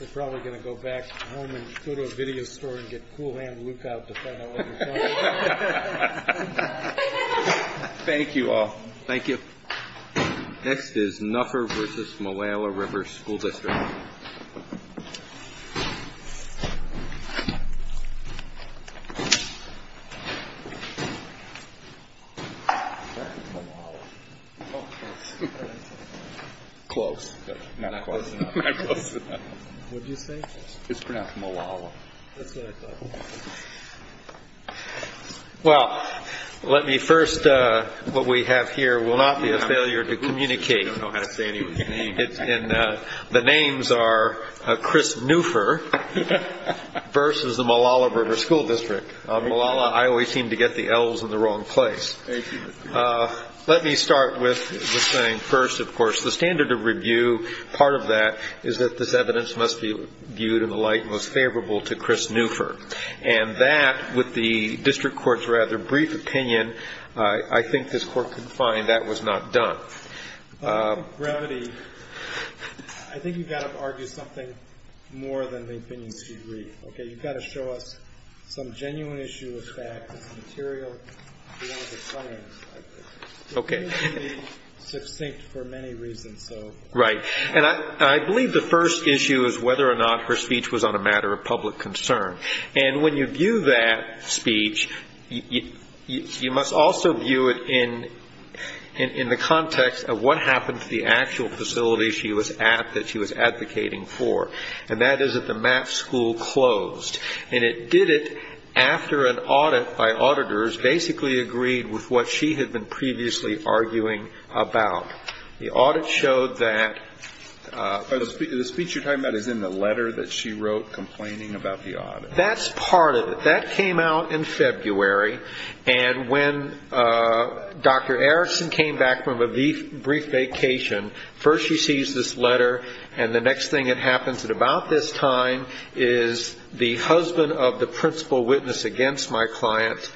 We're probably going to go back home and go to a video store and get cool hand luke out to find out what you're talking about. Thank you all. Thank you. Next is Nuffer v. Malala River School District. Well, let me first, what we have here will not be a failure to communicate. We don't know how to say anyone's name. And the names are Chris Nuffer v. Malala River School District. Malala, I always seem to get the L's in the wrong place. Let me start with saying first, of course, the standard of review, part of that is that this evidence must be viewed in the light most favorable to Chris Nuffer. And that, with the district court's rather brief opinion, I think this court could find that was not done. I think you've got to argue something more than the opinions you read. You've got to show us some genuine issue of fact. It's material beyond the science. Okay. It needs to be succinct for many reasons. Right. And I believe the first issue is whether or not her speech was on a matter of public concern. And when you view that speech, you must also view it in the context of what happened to the actual facility she was at, that she was advocating for, and that is that the math school closed. And it did it after an audit by auditors basically agreed with what she had been previously arguing about. The audit showed that. The speech you're talking about is in the letter that she wrote complaining about the audit. That's part of it. That came out in February. And when Dr. Erickson came back from a brief vacation, first she sees this letter, and the next thing that happens at about this time is the husband of the principal witness against my client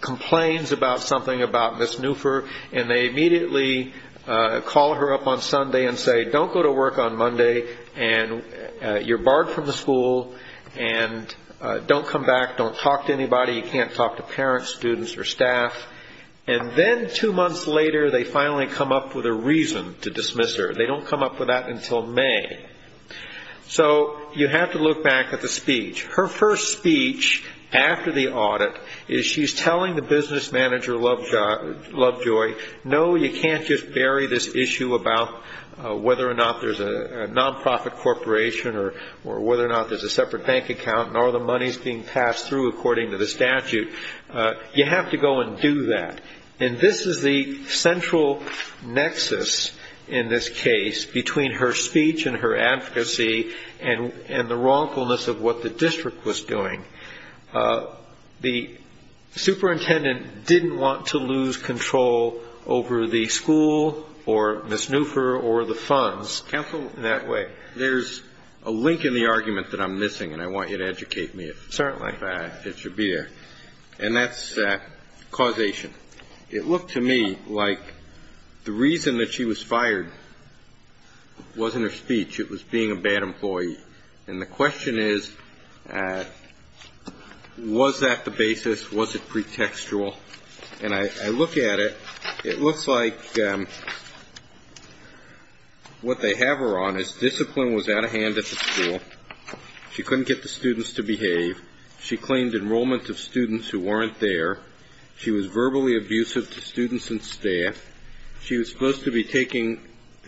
complains about something about Ms. Newfer, and they immediately call her up on Sunday and say, don't go to work on Monday, and you're barred from the school, and don't come back, don't talk to anybody. You can't talk to parents, students, or staff. And then two months later, they finally come up with a reason to dismiss her. They don't come up with that until May. So you have to look back at the speech. Her first speech after the audit is she's telling the business manager, Lovejoy, no, you can't just bury this issue about whether or not there's a nonprofit corporation or whether or not there's a separate bank account, nor are the monies being passed through according to the statute. You have to go and do that. And this is the central nexus in this case between her speech and her advocacy and the wrongfulness of what the district was doing. The superintendent didn't want to lose control over the school or Ms. Newfer or the funds. Counsel, there's a link in the argument that I'm missing, and I want you to educate me. Certainly. It should be there. And that's causation. It looked to me like the reason that she was fired wasn't her speech. It was being a bad employee. And the question is, was that the basis? Was it pretextual? And I look at it. It looks like what they have her on is discipline was out of hand at the school. She couldn't get the students to behave. She claimed enrollment of students who weren't there. She was verbally abusive to students and staff. She was supposed to be taking,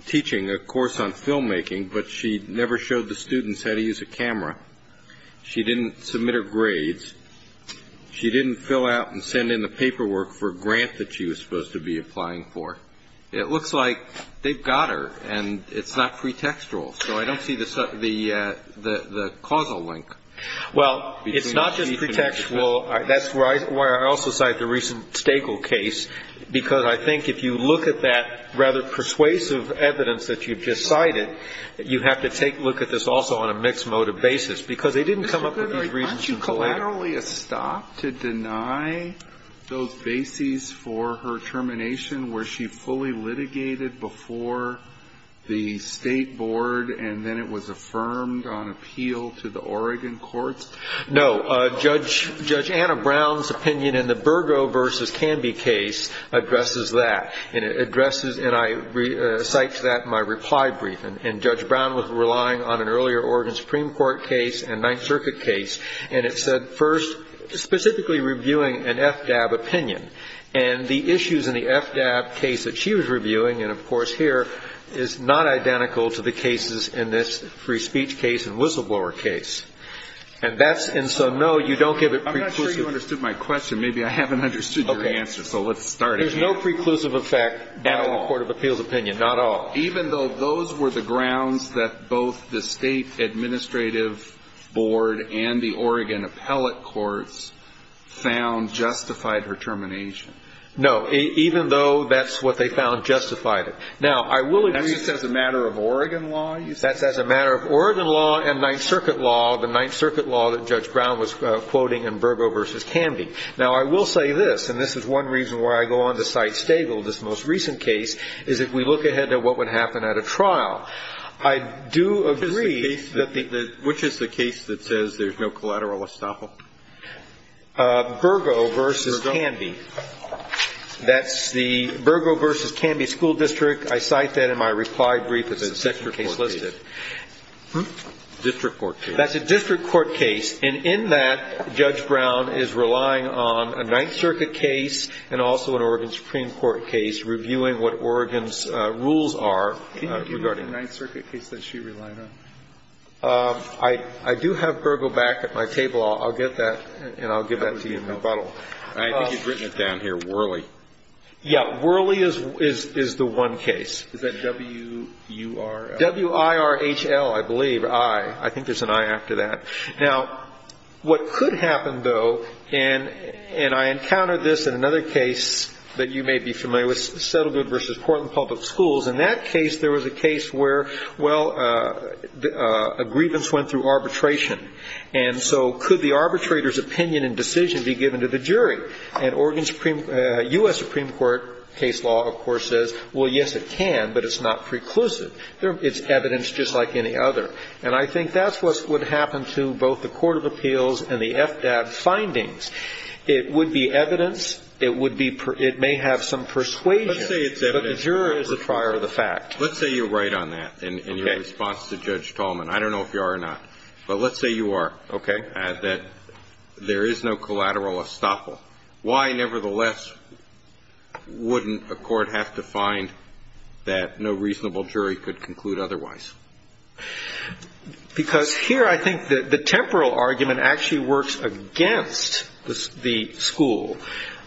teaching a course on filmmaking, but she never showed the students how to use a camera. She didn't submit her grades. She didn't fill out and send in the paperwork for a grant that she was supposed to be applying for. It looks like they've got her, and it's not pretextual. So I don't see the causal link. Well, it's not just pretextual. Well, that's why I also cite the recent Staigle case, because I think if you look at that rather persuasive evidence that you've just cited, you have to take a look at this also on a mixed motive basis, because they didn't come up with these reasons later. Mr. Goodhart, aren't you collaterally a stop to deny those bases for her termination where she fully litigated before the State Board and then it was affirmed on appeal to the Oregon courts? No. Judge Anna Brown's opinion in the Burgo versus Canby case addresses that. And it addresses, and I cite to that my reply briefing. And Judge Brown was relying on an earlier Oregon Supreme Court case and Ninth Circuit case, and it said first specifically reviewing an FDAB opinion. And the issues in the FDAB case that she was reviewing, and of course here, is not identical to the cases in this free speech case and whistleblower case. And so, no, you don't give it preclusive. I'm not sure you understood my question. Maybe I haven't understood your answer, so let's start again. There's no preclusive effect at all in the court of appeals opinion, not at all. Even though those were the grounds that both the State Administrative Board and the Oregon appellate courts found justified her termination. No, even though that's what they found justified it. Now, I will agree. And you said it's a matter of Oregon law? That's a matter of Oregon law and Ninth Circuit law, the Ninth Circuit law that Judge Brown was quoting in Burgo v. Canby. Now, I will say this, and this is one reason why I go on to cite Stagel, this most recent case, is if we look ahead at what would happen at a trial. I do agree. Which is the case that says there's no collateral estoppel? Burgo v. Canby. That's the Burgo v. Canby School District. I cite that in my reply brief. It's the second case listed. District court case. That's a district court case, and in that, Judge Brown is relying on a Ninth Circuit case and also an Oregon Supreme Court case reviewing what Oregon's rules are regarding that. Can you give me the Ninth Circuit case that she relied on? I do have Burgo back at my table. I'll get that, and I'll give that to you in rebuttal. I think you've written it down here, Worley. Yeah, Worley is the one case. Is that W-U-R-L? W-I-R-H-L, I believe, I. I think there's an I after that. Now, what could happen, though, and I encountered this in another case that you may be familiar with, Settlement v. Portland Public Schools. In that case, there was a case where, well, a grievance went through arbitration, and Oregon Supreme Court, U.S. Supreme Court case law, of course, says, well, yes, it can, but it's not preclusive. It's evidence just like any other. And I think that's what would happen to both the court of appeals and the FDAP findings. It would be evidence. It may have some persuasion, but the juror is the prior of the fact. Let's say you're right on that in your response to Judge Tallman. I don't know if you are or not, but let's say you are, okay, that there is no collateral estoppel. Why, nevertheless, wouldn't a court have to find that no reasonable jury could conclude otherwise? Because here I think the temporal argument actually works against the school.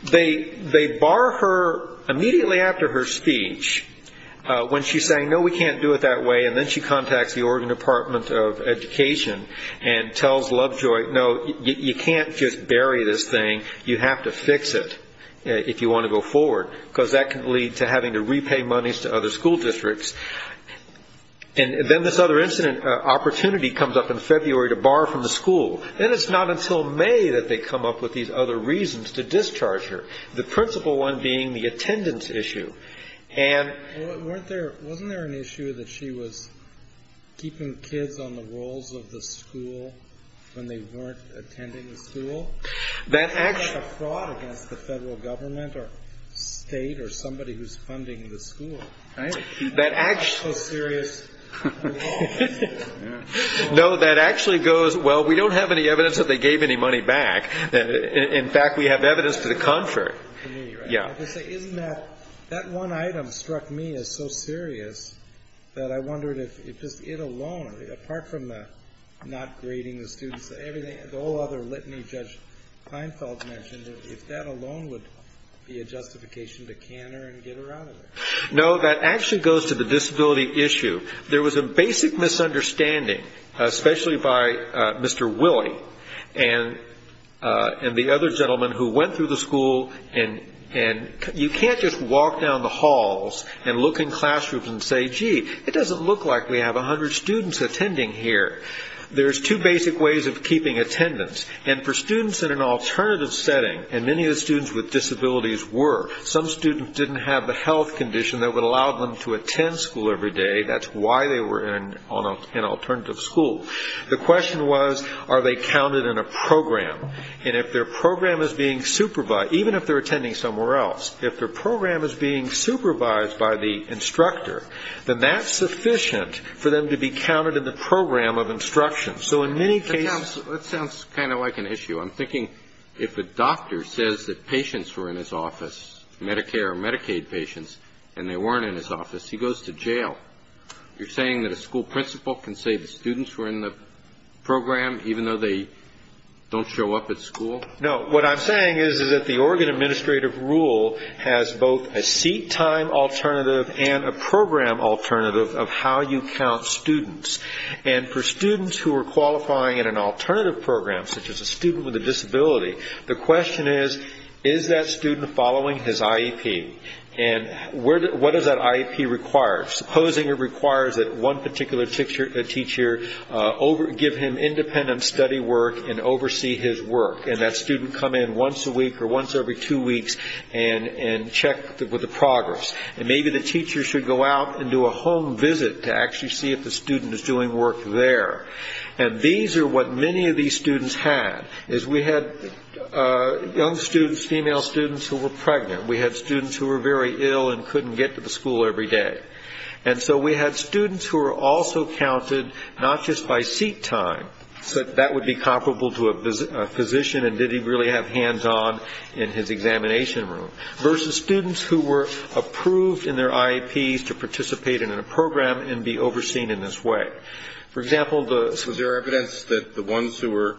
They bar her immediately after her speech when she's saying, no, we can't do it that way, and then she contacts the Oregon Department of Education and tells Lovejoy, no, you can't just bury this thing. You have to fix it if you want to go forward, because that can lead to having to repay monies to other school districts. And then this other incident, opportunity, comes up in February to bar her from the school. Then it's not until May that they come up with these other reasons to discharge her, the principal one being the attendance issue. Well, wasn't there an issue that she was keeping kids on the rolls of the school when they weren't attending the school? That actually goes, well, we don't have any evidence that they gave any money back. In fact, we have evidence to the contrary. Isn't that one item struck me as so serious that I wondered if just it alone, apart from not grading the students, the whole other litany Judge Heinfeld mentioned, if that alone would be a justification to can her and get her out of there? No, that actually goes to the disability issue. There was a basic misunderstanding, especially by Mr. Willie and the other gentleman who went through the school, and you can't just walk down the halls and look in classrooms and say, gee, it doesn't look like we have 100 students attending here. There's two basic ways of keeping attendance. And for students in an alternative setting, and many of the students with disabilities were, some students didn't have the health condition that would allow them to attend school every day. That's why they were in an alternative school. The question was, are they counted in a program? And if their program is being supervised, even if they're attending somewhere else, if their program is being supervised by the instructor, then that's sufficient for them to be counted in the program of instruction. So in many cases – That sounds kind of like an issue. I'm thinking if a doctor says that patients were in his office, Medicare or Medicaid patients, and they weren't in his office, he goes to jail. You're saying that a school principal can say the students were in the program even though they don't show up at school? No, what I'm saying is that the Oregon Administrative Rule has both a seat time alternative and a program alternative of how you count students. And for students who are qualifying in an alternative program, such as a student with a disability, the question is, is that student following his IEP? And what does that IEP require? Supposing it requires that one particular teacher give him independent study work and oversee his work, and that student come in once a week or once every two weeks and check with the progress. And maybe the teacher should go out and do a home visit to actually see if the student is doing work there. And these are what many of these students had. We had young students, female students, who were pregnant. We had students who were very ill and couldn't get to the school every day. And so we had students who were also counted not just by seat time, but that would be comparable to a physician and did he really have hands-on in his examination room, versus students who were approved in their IEPs to participate in a program and be overseen in this way. For example, the- So is there evidence that the ones who were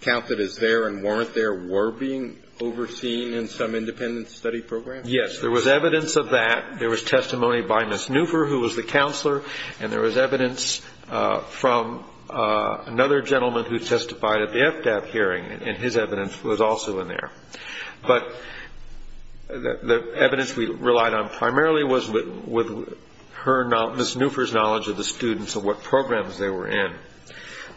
counted as there and weren't there were being overseen in some independent study program? Yes, there was evidence of that. There was testimony by Ms. Newfer, who was the counselor, and there was evidence from another gentleman who testified at the FDAP hearing, and his evidence was also in there. But the evidence we relied on primarily was with her- Ms. Newfer's knowledge of the students and what programs they were in.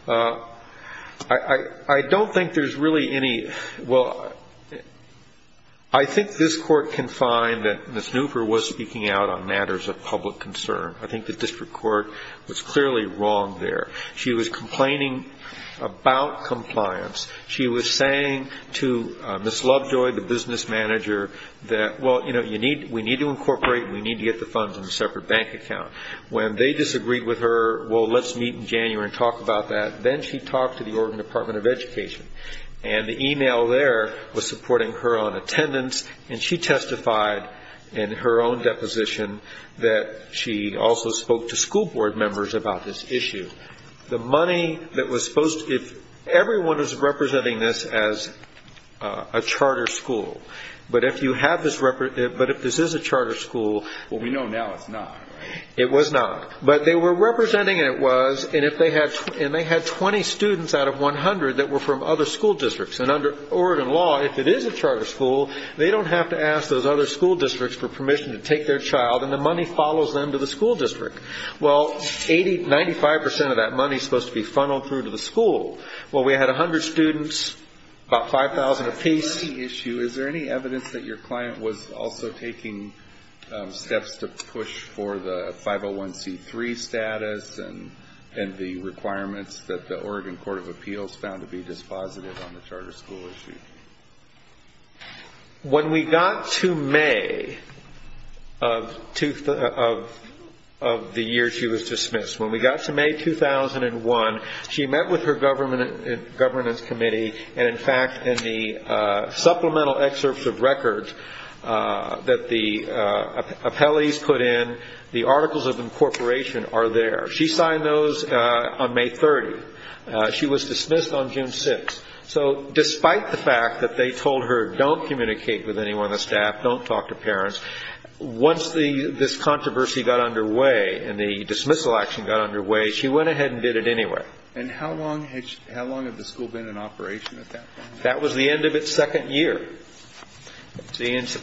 I don't think there's really any- Well, I think this court can find that Ms. Newfer was speaking out on matters of public concern. I think the district court was clearly wrong there. She was complaining about compliance. She was saying to Ms. Lovejoy, the business manager, that, well, you know, we need to incorporate and we need to get the funds in a separate bank account. When they disagreed with her, well, let's meet in January and talk about that. Then she talked to the Oregon Department of Education, and the email there was supporting her on attendance, and she testified in her own deposition that she also spoke to school board members about this issue. The money that was supposed to- Everyone is representing this as a charter school, but if you have this- But if this is a charter school- It was not, but they were representing it was, and they had 20 students out of 100 that were from other school districts. Under Oregon law, if it is a charter school, they don't have to ask those other school districts for permission to take their child, and the money follows them to the school district. Well, 95 percent of that money is supposed to be funneled through to the school. Well, we had 100 students, about 5,000 apiece. On the policy issue, is there any evidence that your client was also taking steps to push for the 501c3 status and the requirements that the Oregon Court of Appeals found to be dispositive on the charter school issue? When we got to May of the year she was dismissed, when we got to May 2001, she met with her governance committee, and in fact, in the supplemental excerpts of records that the appellees put in, the articles of incorporation are there. She signed those on May 30. She was dismissed on June 6. So despite the fact that they told her, don't communicate with anyone on the staff, don't talk to parents, once this controversy got underway and the dismissal action got underway, she went ahead and did it anyway. And how long had the school been in operation at that point? That was the end of its second year. She was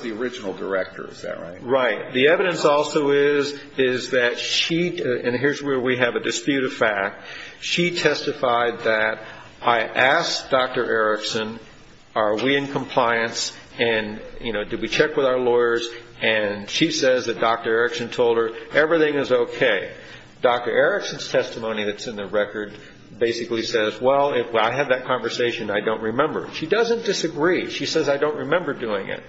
the original director, is that right? Right. The evidence also is that she, and here's where we have a dispute of fact, she testified that, I asked Dr. Erickson, are we in compliance, and did we check with our lawyers, and she says that Dr. Erickson told her everything is okay. Dr. Erickson's testimony that's in the record basically says, well, if I had that conversation, I don't remember. She doesn't disagree. She says, I don't remember doing it.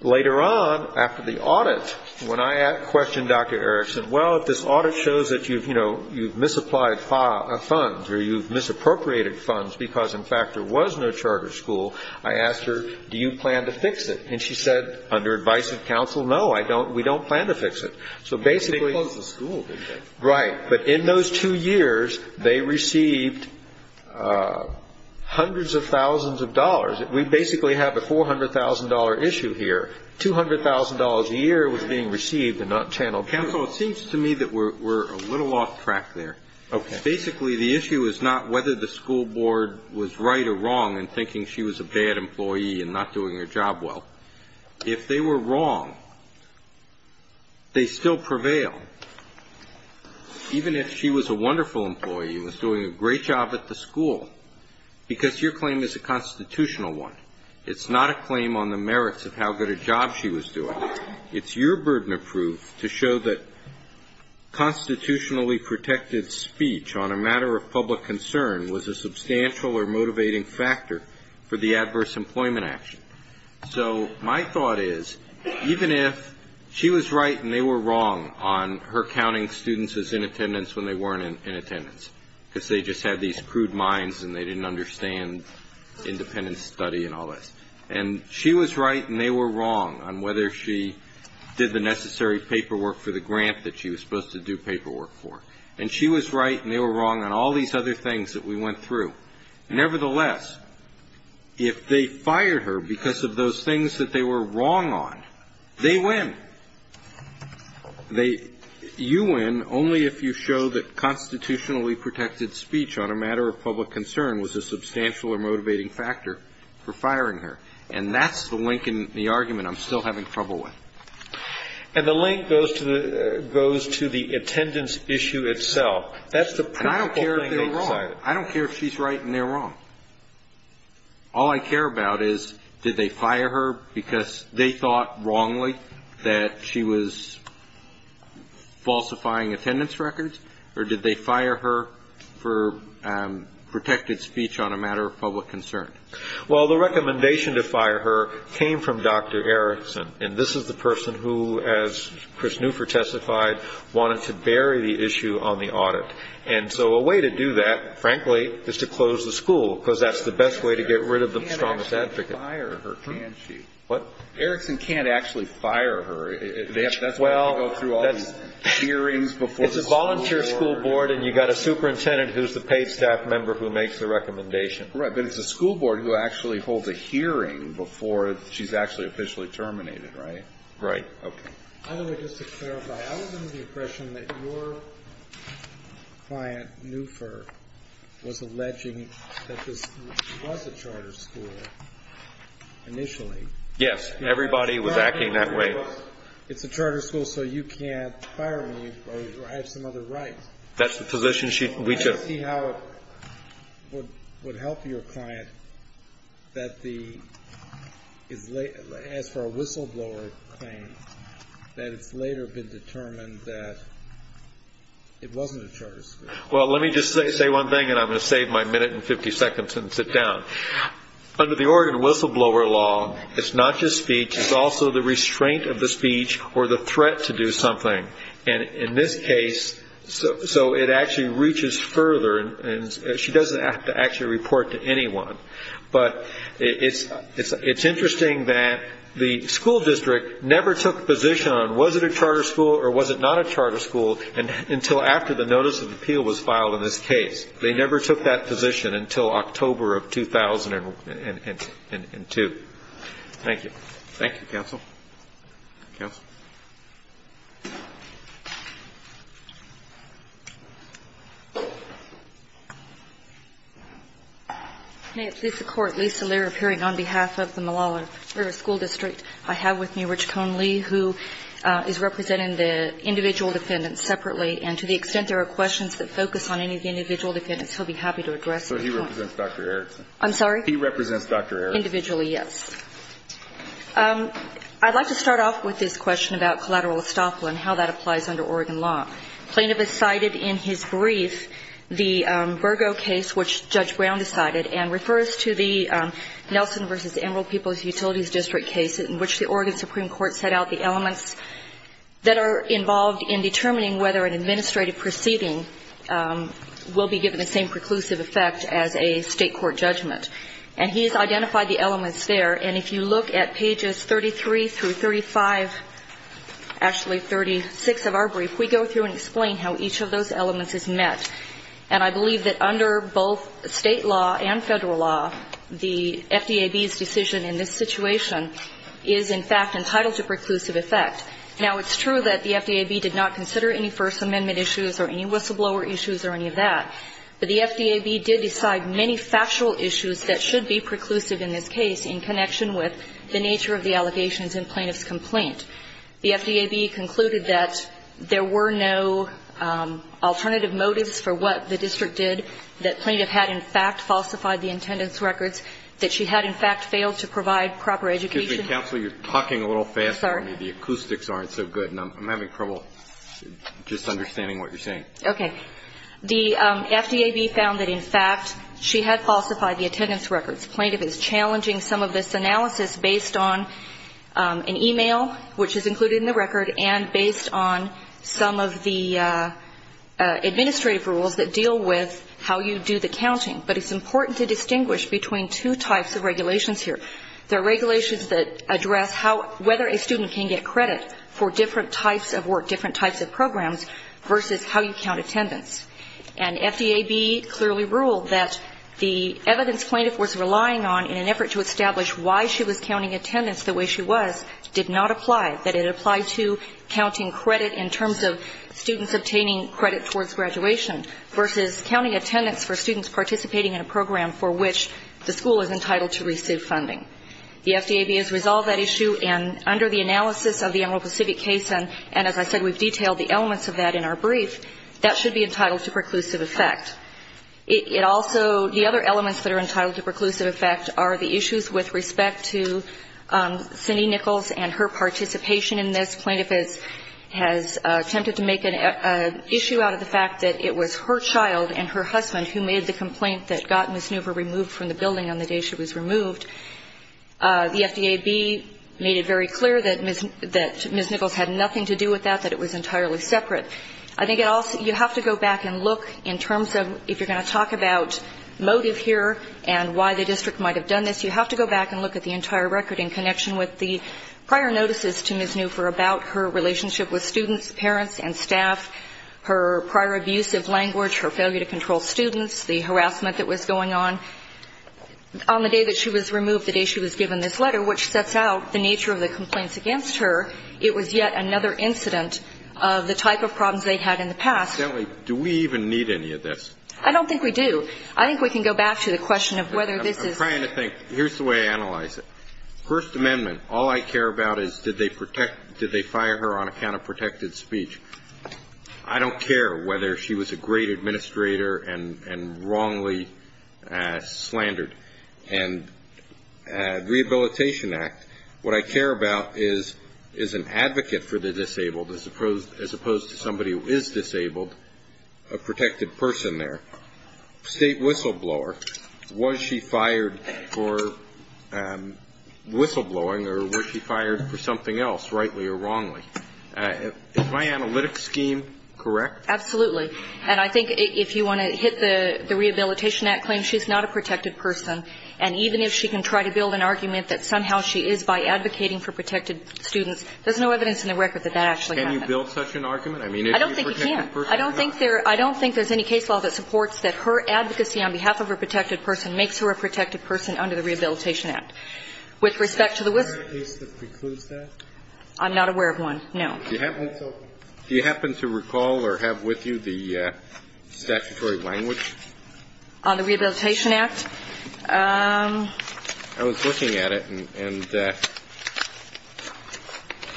Later on, after the audit, when I questioned Dr. Erickson, well, if this audit shows that you've, you know, you've misapplied funds or you've misappropriated funds because, in fact, there was no charter school, I asked her, do you plan to fix it? And she said, under advice of counsel, no, I don't, we don't plan to fix it. So basically. They closed the school, didn't they? Right. But in those two years, they received hundreds of thousands of dollars. We basically have a $400,000 issue here. $200,000 a year was being received and not channeled. Counsel, it seems to me that we're a little off track there. Okay. Basically, the issue is not whether the school board was right or wrong in thinking she was a bad employee and not doing her job well. If they were wrong, they still prevail, even if she was a wonderful employee and was doing a great job at the school, because your claim is a constitutional one. It's not a claim on the merits of how good a job she was doing. It's your burden of proof to show that constitutionally protected speech on a matter of public concern was a substantial or motivating factor for the adverse employment action. So my thought is, even if she was right and they were wrong on her counting students as in attendance when they weren't in attendance, because they just had these crude minds and they didn't understand independent study and all this, and she was right and they were wrong on whether she did the necessary paperwork for the grant that she was supposed to do paperwork for, and she was right and they were wrong on all these other things that we went through, nevertheless, if they fired her because of those things that they were wrong on, they win. They you win only if you show that constitutionally protected speech on a matter of public concern was a substantial or motivating factor for firing her. And that's the link in the argument I'm still having trouble with. And the link goes to the attendance issue itself. And I don't care if they're wrong. I don't care if she's right and they're wrong. All I care about is did they fire her because they thought wrongly that she was falsifying attendance records, or did they fire her for protected speech on a matter of public concern? Well, the recommendation to fire her came from Dr. Erickson, and this is the person who, as Chris Newford testified, wanted to bury the issue on the audit. And so a way to do that, frankly, is to close the school, because that's the best way to get rid of the strongest advocate. Erickson can't actually fire her, can she? What? Erickson can't actually fire her. That's why they go through all these hearings before the school board. It's a volunteer school board and you've got a superintendent who's the paid staff member who makes the recommendation. Right, but it's the school board who actually holds a hearing before she's actually officially terminated, right? Right. Okay. By the way, just to clarify, I was under the impression that your client, Newford, was alleging that this was a charter school initially. Yes, everybody was acting that way. It's a charter school, so you can't fire me or I have some other rights. That's the position we took. I want to see how it would help your client that as for a whistleblower claim, that it's later been determined that it wasn't a charter school. Well, let me just say one thing and I'm going to save my minute and 50 seconds and sit down. Under the Oregon whistleblower law, it's not just speech. It's also the restraint of the speech or the threat to do something. In this case, so it actually reaches further and she doesn't have to actually report to anyone. But it's interesting that the school district never took a position on was it a charter school or was it not a charter school until after the notice of appeal was filed in this case. They never took that position until October of 2002. Thank you. Thank you, counsel. Counsel? May it please the Court. Lisa Lerer, appearing on behalf of the Malala River School District. I have with me Rich Cone Lee who is representing the individual defendants separately and to the extent there are questions that focus on any of the individual defendants, he'll be happy to address them. So he represents Dr. Erickson. I'm sorry? He represents Dr. Erickson. Individually, yes. I'd like to start off with this question about collateral estoppel and how that applies under Oregon law. Plaintiff has cited in his brief the Virgo case which Judge Brown decided and refers to the Nelson v. Emerald People's Utilities District case in which the Oregon Supreme Court set out the elements that are involved in determining whether an administrative proceeding will be given the same preclusive effect as a state court judgment. And he's identified the elements there. And if you look at pages 33 through 35, actually 36 of our brief, we go through and explain how each of those elements is met. And I believe that under both state law and federal law, the FDAB's decision in this situation is, in fact, entitled to preclusive effect. Now, it's true that the FDAB did not consider any First Amendment issues or any whistleblower issues or any of that. But the FDAB did decide many factual issues that should be preclusive in this case in connection with the nature of the allegations in plaintiff's complaint. The FDAB concluded that there were no alternative motives for what the district did, that plaintiff had, in fact, falsified the intendant's records, that she had, in fact, failed to provide proper education. Excuse me, counsel. You're talking a little faster than me. Sorry. The acoustics aren't so good. And I'm having trouble just understanding what you're saying. Okay. The FDAB found that, in fact, she had falsified the intendant's records. Plaintiff is challenging some of this analysis based on an e-mail, which is included in the record, and based on some of the administrative rules that deal with how you do the counting. But it's important to distinguish between two types of regulations here. There are regulations that address whether a student can get credit for different types of work, different types of programs, versus how you count attendance. And FDAB clearly ruled that the evidence plaintiff was relying on in an effort to establish why she was counting attendance the way she was did not apply, that it applied to counting credit in terms of students obtaining credit towards graduation versus counting attendance for students participating in a program for which the school is entitled to receive funding. The FDAB has resolved that issue, and under the analysis of the Emerald Pacific case, and as I said, we've detailed the elements of that in our brief, that should be entitled to preclusive effect. It also the other elements that are entitled to preclusive effect are the issues with respect to Cindy Nichols and her participation in this. Plaintiff has attempted to make an issue out of the fact that it was her child and her husband who made the complaint that got Ms. Newber removed from the building on the day she was removed. The FDAB made it very clear that Ms. Nichols had nothing to do with that, that it was entirely separate. I think you have to go back and look in terms of if you're going to talk about motive here and why the district might have done this, you have to go back and look at the entire record in connection with the prior notices to Ms. Newber about her relationship with students, parents, and staff, her prior abuse of language, her failure to control students, the harassment that was going on. On the day that she was removed, the day she was given this letter, which sets out the nature of the complaints against her, it was yet another incident of the type of problems they had in the past. Do we even need any of this? I don't think we do. I think we can go back to the question of whether this is. I'm trying to think. Here's the way I analyze it. First Amendment, all I care about is did they protect, did they fire her on account of protected speech. I don't care whether she was a great administrator and wrongly slandered. And Rehabilitation Act, what I care about is an advocate for the disabled as opposed to somebody who is disabled, a protected person there. State whistleblower, was she fired for whistleblowing or was she fired for something else, rightly or wrongly? Is my analytic scheme correct? Absolutely. And I think if you want to hit the Rehabilitation Act claim, she's not a protected person. And even if she can try to build an argument that somehow she is by advocating for protected students, there's no evidence in the record that that actually happened. Can you build such an argument? I don't think you can. I don't think there's any case law that supports that her advocacy on behalf of her protected person makes her a protected person under the Rehabilitation Act. With respect to the whistleblower case that precludes that? I'm not aware of one, no. Do you happen to recall or have with you the statutory language? On the Rehabilitation Act? I was looking at it, and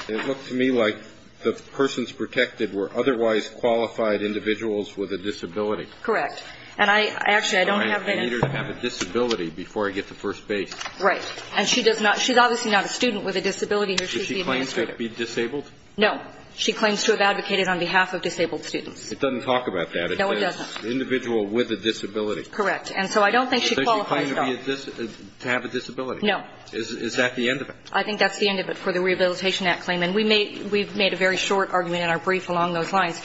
it looked to me like the persons protected were otherwise qualified individuals with a disability. Correct. And I actually don't have that information. I need her to have a disability before I get to first base. Right. And she's obviously not a student with a disability. She's the administrator. Does she claim to be disabled? No. She claims to have advocated on behalf of disabled students. It doesn't talk about that. No, it doesn't. It says individual with a disability. Correct. And so I don't think she qualifies at all. Does she claim to have a disability? No. Is that the end of it? I think that's the end of it for the Rehabilitation Act claim. And we've made a very short argument in our brief along those lines.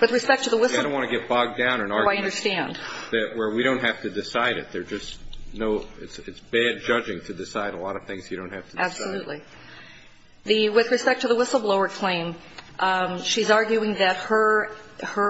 With respect to the whistleblower. I don't want to get bogged down in arguments where we don't have to decide it. There's just no – it's bad judging to decide a lot of things you don't have to decide. Absolutely. With respect to the whistleblower claim, she's arguing that her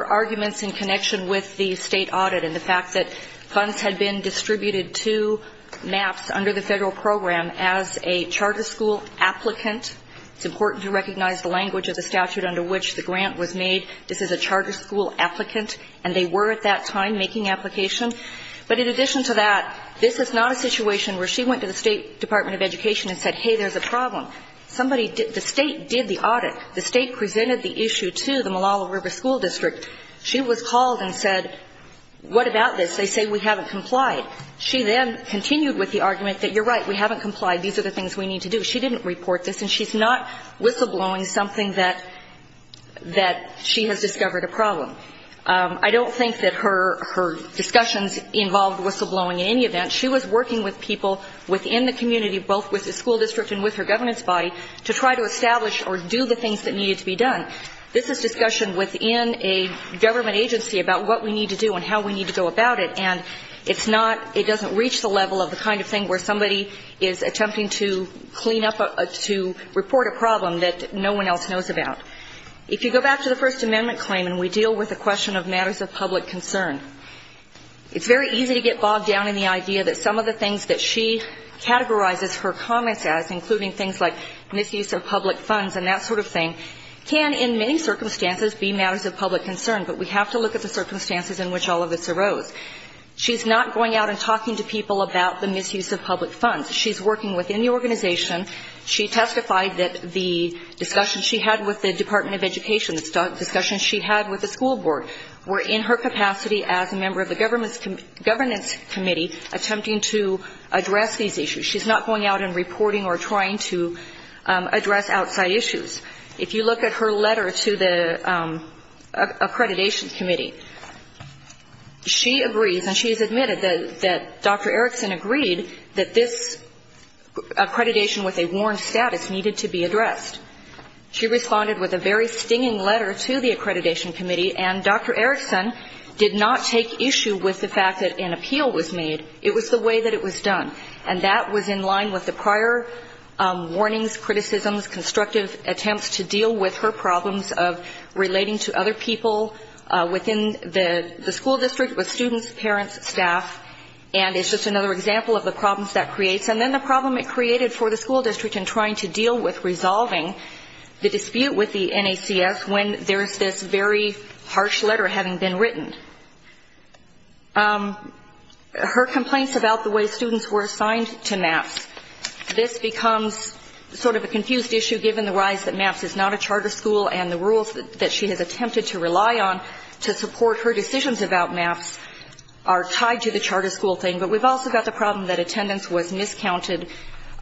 arguments in connection with the state audit and the fact that funds had been distributed to MAPS under the federal program as a charter school applicant. It's important to recognize the language of the statute under which the grant was made. This is a charter school applicant. And they were at that time making application. But in addition to that, this is not a situation where she went to the State Department of Education and said, hey, there's a problem. Somebody – the State did the audit. The State presented the issue to the Malala River School District. She was called and said, what about this? They say we haven't complied. She then continued with the argument that, you're right, we haven't complied. These are the things we need to do. She didn't report this. And she's not whistleblowing something that she has discovered a problem. I don't think that her discussions involved whistleblowing in any event. She was working with people within the community, both with the school district and with her governance body, to try to establish or do the things that needed to be done. This is discussion within a government agency about what we need to do and how we need to go about it. And it's not – it doesn't reach the level of the kind of thing where somebody is attempting to clean up a – to report a problem that no one else knows about. If you go back to the First Amendment claim and we deal with the question of matters of public concern, it's very easy to get bogged down in the idea that some of the things that she categorizes her comments as, including things like misuse of public funds and that sort of thing, can in many circumstances be matters of public concern. But we have to look at the circumstances in which all of this arose. She's not going out and talking to people about the misuse of public funds. She's working within the organization. She testified that the discussions she had with the Department of Education, the discussions she had with the school board, were in her capacity as a member of the governance committee attempting to address these issues. She's not going out and reporting or trying to address outside issues. If you look at her letter to the Accreditation Committee, she agrees, and she has agreed, that this accreditation with a warned status needed to be addressed. She responded with a very stinging letter to the Accreditation Committee, and Dr. Erickson did not take issue with the fact that an appeal was made. It was the way that it was done, and that was in line with the prior warnings, criticisms, constructive attempts to deal with her problems of relating to other people within the school district, with students, parents, staff, and it's just another example of the problems that creates. And then the problem it created for the school district in trying to deal with resolving the dispute with the NACS when there's this very harsh letter having been written. Her complaints about the way students were assigned to MAPS, this becomes sort of a confused issue given the rise that MAPS is not a charter school and the rules that she has attempted to rely on to support her decisions about MAPS are tied to the charter school thing. But we've also got the problem that attendance was miscounted.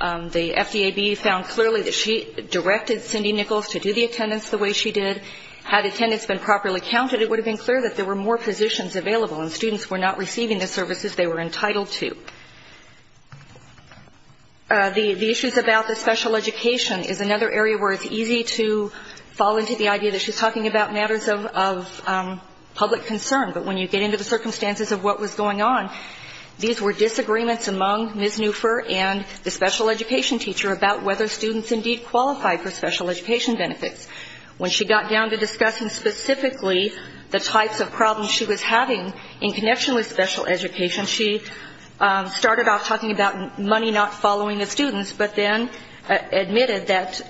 The FDAB found clearly that she directed Cindy Nichols to do the attendance the way she did. Had attendance been properly counted, it would have been clear that there were more positions available and students were not receiving the services they were entitled to. The issues about the special education is another area where it's easy to fall into the idea that she's talking about matters of public concern, but when you get into the circumstances of what was going on, these were disagreements among Ms. Neufer and the special education teacher about whether students indeed qualified for special education benefits. When she got down to discussing specifically the types of problems she was having in connection with special education, she started off talking about money not following the students, but then admitted that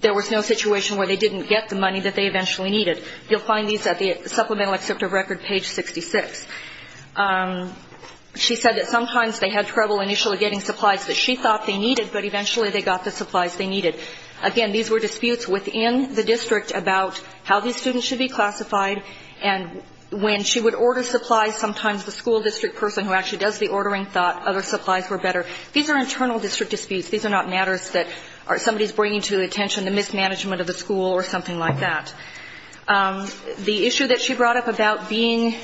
there was no situation where they didn't get the money that they eventually needed. You'll find these at the supplemental excerpt of record, page 66. She said that sometimes they had trouble initially getting supplies that she thought they needed, but eventually they got the supplies they needed. Again, these were disputes within the district about how these students should be classified, and when she would order supplies, sometimes the school district person who actually does the ordering thought other supplies were better. These are internal district disputes. These are not matters that somebody is bringing to the attention, the mismanagement of the school or something like that. The issue that she brought up about being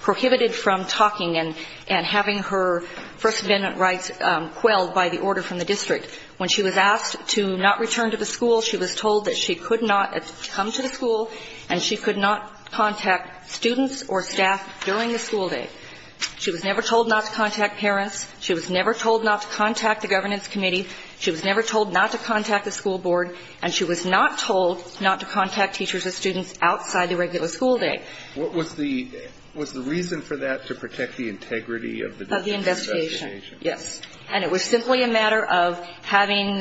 prohibited from talking and having her First Amendment rights quelled by the order from the district, when she was asked to not return to the school, she was told that she could not come to the school and she could not contact students or staff during the school day. She was never told not to contact parents. She was never told not to contact the governance committee. She was never told not to contact the school board. And she was not told not to contact teachers or students outside the regular school day. What was the reason for that, to protect the integrity of the district's investigation? Of the investigation, yes. And it was simply a matter of having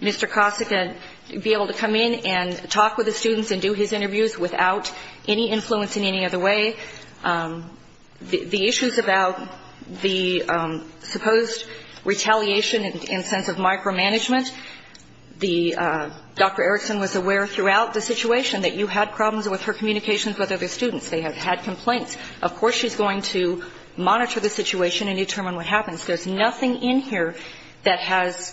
Mr. Kosick be able to come in and talk with the students and do his interviews without any influence in any other way. The issues about the supposed retaliation in the sense of micromanagement, the Dr. Erickson was aware throughout the situation that you had problems with her communications with other students. They have had complaints. Of course she's going to monitor the situation and determine what happens. There's nothing in here that has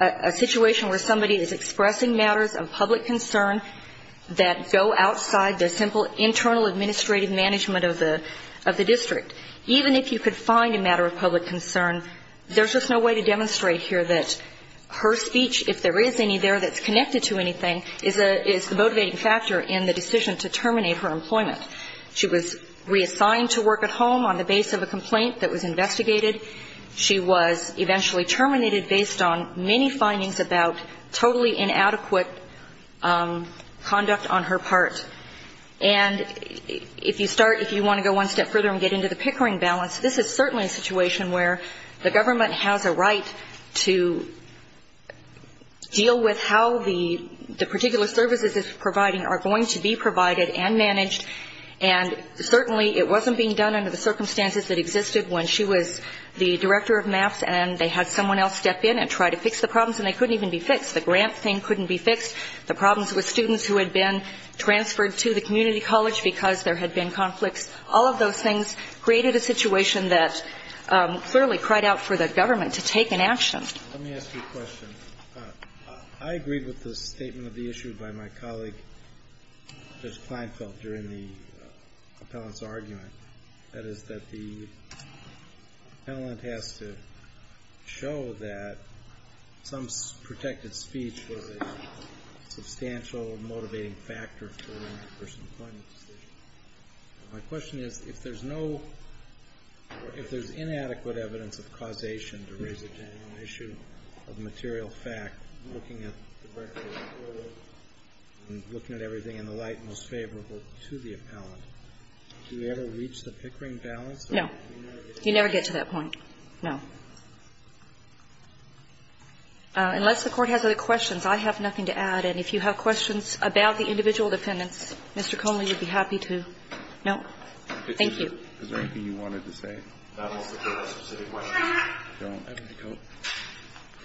a situation where somebody is expressing matters of public concern that go outside the simple internal administrative management of the district. Even if you could find a matter of public concern, there's just no way to demonstrate here that her speech, if there is any there that's connected to anything, is the motivating factor in the decision to terminate her employment. She was reassigned to work at home on the base of a complaint that was investigated. She was eventually terminated based on many findings about totally inadequate conduct on her part. And if you start, if you want to go one step further and get into the Pickering balance, this is certainly a situation where the government has a right to deal with how the particular services it's providing are going to be provided and managed. And certainly it wasn't being done under the circumstances that existed when she was the director of MAPS and they had someone else step in and try to fix the problems and they couldn't even be fixed. The grant thing couldn't be fixed. The problems with students who had been transferred to the community college because there had been conflicts. All of those things created a situation that clearly cried out for the government to take an action. Let me ask you a question. I agree with the statement of the issue by my colleague, Judge Kleinfeld, during the appellant's argument. That is, that the appellant has to show that some protected speech was a substantial motivating factor for a person's appointment decision. My question is, if there's no, if there's inadequate evidence of causation to raise a genuine issue of material fact, looking at the record and looking at everything in the light most favorable to the appellant, do we ever reach the Pickering balance? No. You never get to that point. No. Unless the Court has other questions, I have nothing to add. And if you have questions about the individual defendants, Mr. Conley would be happy to. No? Thank you. Is there anything you wanted to say? Not unless the Court has specific questions. I don't. I don't.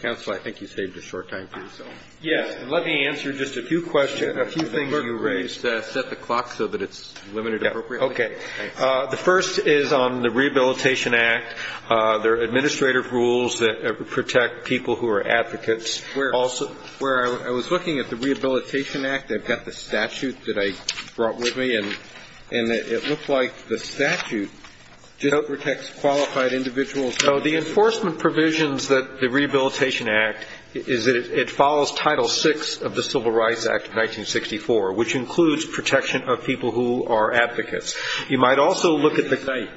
Counsel, I think you saved a short time for yourself. Yes. Let me answer just a few questions, a few things you raised. Set the clock so that it's limited appropriately. Okay. The first is on the Rehabilitation Act. There are administrative rules that protect people who are advocates. Where I was looking at the Rehabilitation Act, I've got the statute that I brought with me, and it looks like the statute just protects qualified individuals. So the enforcement provisions that the Rehabilitation Act is that it follows Title VI of the Civil Rights Act of 1964, which includes protection of people who are advocates. You might also look at the site.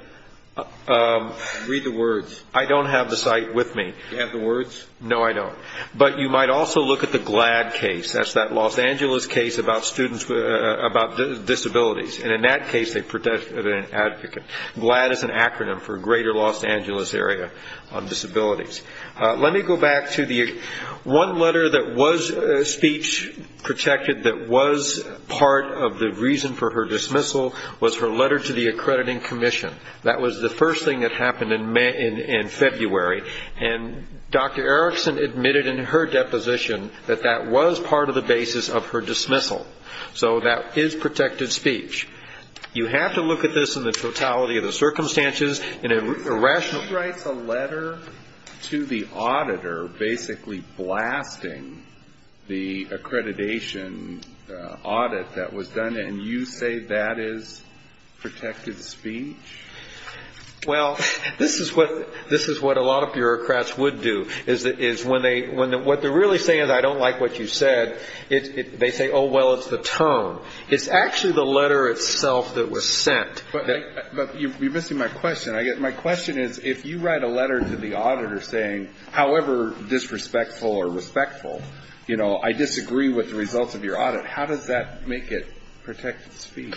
Read the words. I don't have the site with me. Do you have the words? No, I don't. But you might also look at the GLAD case. That's that Los Angeles case about students with disabilities. And in that case, they protected an advocate. GLAD is an acronym for Greater Los Angeles Area on Disabilities. Let me go back to the one letter that was speech protected that was part of the reason for her dismissal, was her letter to the accrediting commission. That was the first thing that happened in February. And Dr. Erickson admitted in her deposition that that was part of the basis of her dismissal. So that is protected speech. You have to look at this in the totality of the circumstances. She writes a letter to the auditor basically blasting the accreditation audit that was done, and you say that is protected speech? Well, this is what a lot of bureaucrats would do, is when they're really saying, I don't like what you said, they say, oh, well, it's the term. It's actually the letter itself that was sent. But you're missing my question. My question is, if you write a letter to the auditor saying, however disrespectful or respectful, you know, I disagree with the results of your audit, how does that make it protected speech?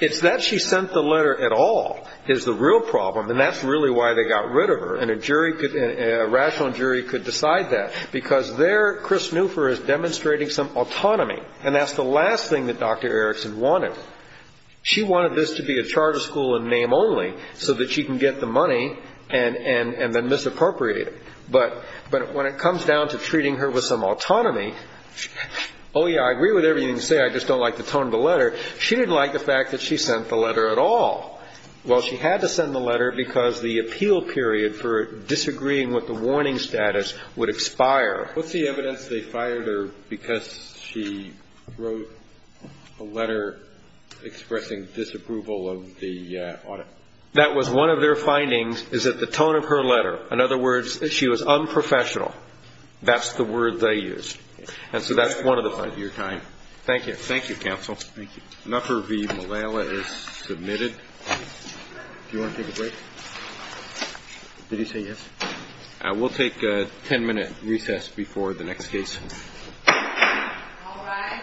It's that she sent the letter at all is the real problem, and that's really why they got rid of her. And a rational jury could decide that, because there Chris Newfer is demonstrating some autonomy. And that's the last thing that Dr. Erickson wanted. She wanted this to be a charter school in name only so that she can get the money and then misappropriate it. But when it comes down to treating her with some autonomy, oh, yeah, I agree with everything you say. I just don't like the tone of the letter. She didn't like the fact that she sent the letter at all. Well, she had to send the letter because the appeal period for disagreeing with the warning status would expire. What's the evidence they fired her because she wrote a letter expressing disapproval of the audit? That was one of their findings, is that the tone of her letter. In other words, she was unprofessional. That's the word they used. And so that's one of the findings. Thank you. Thank you, counsel. Thank you. Newfer v. Malala is submitted. Do you want to take a break? Did he say yes? We'll take a ten-minute recess before the next case. All rise. Thank you.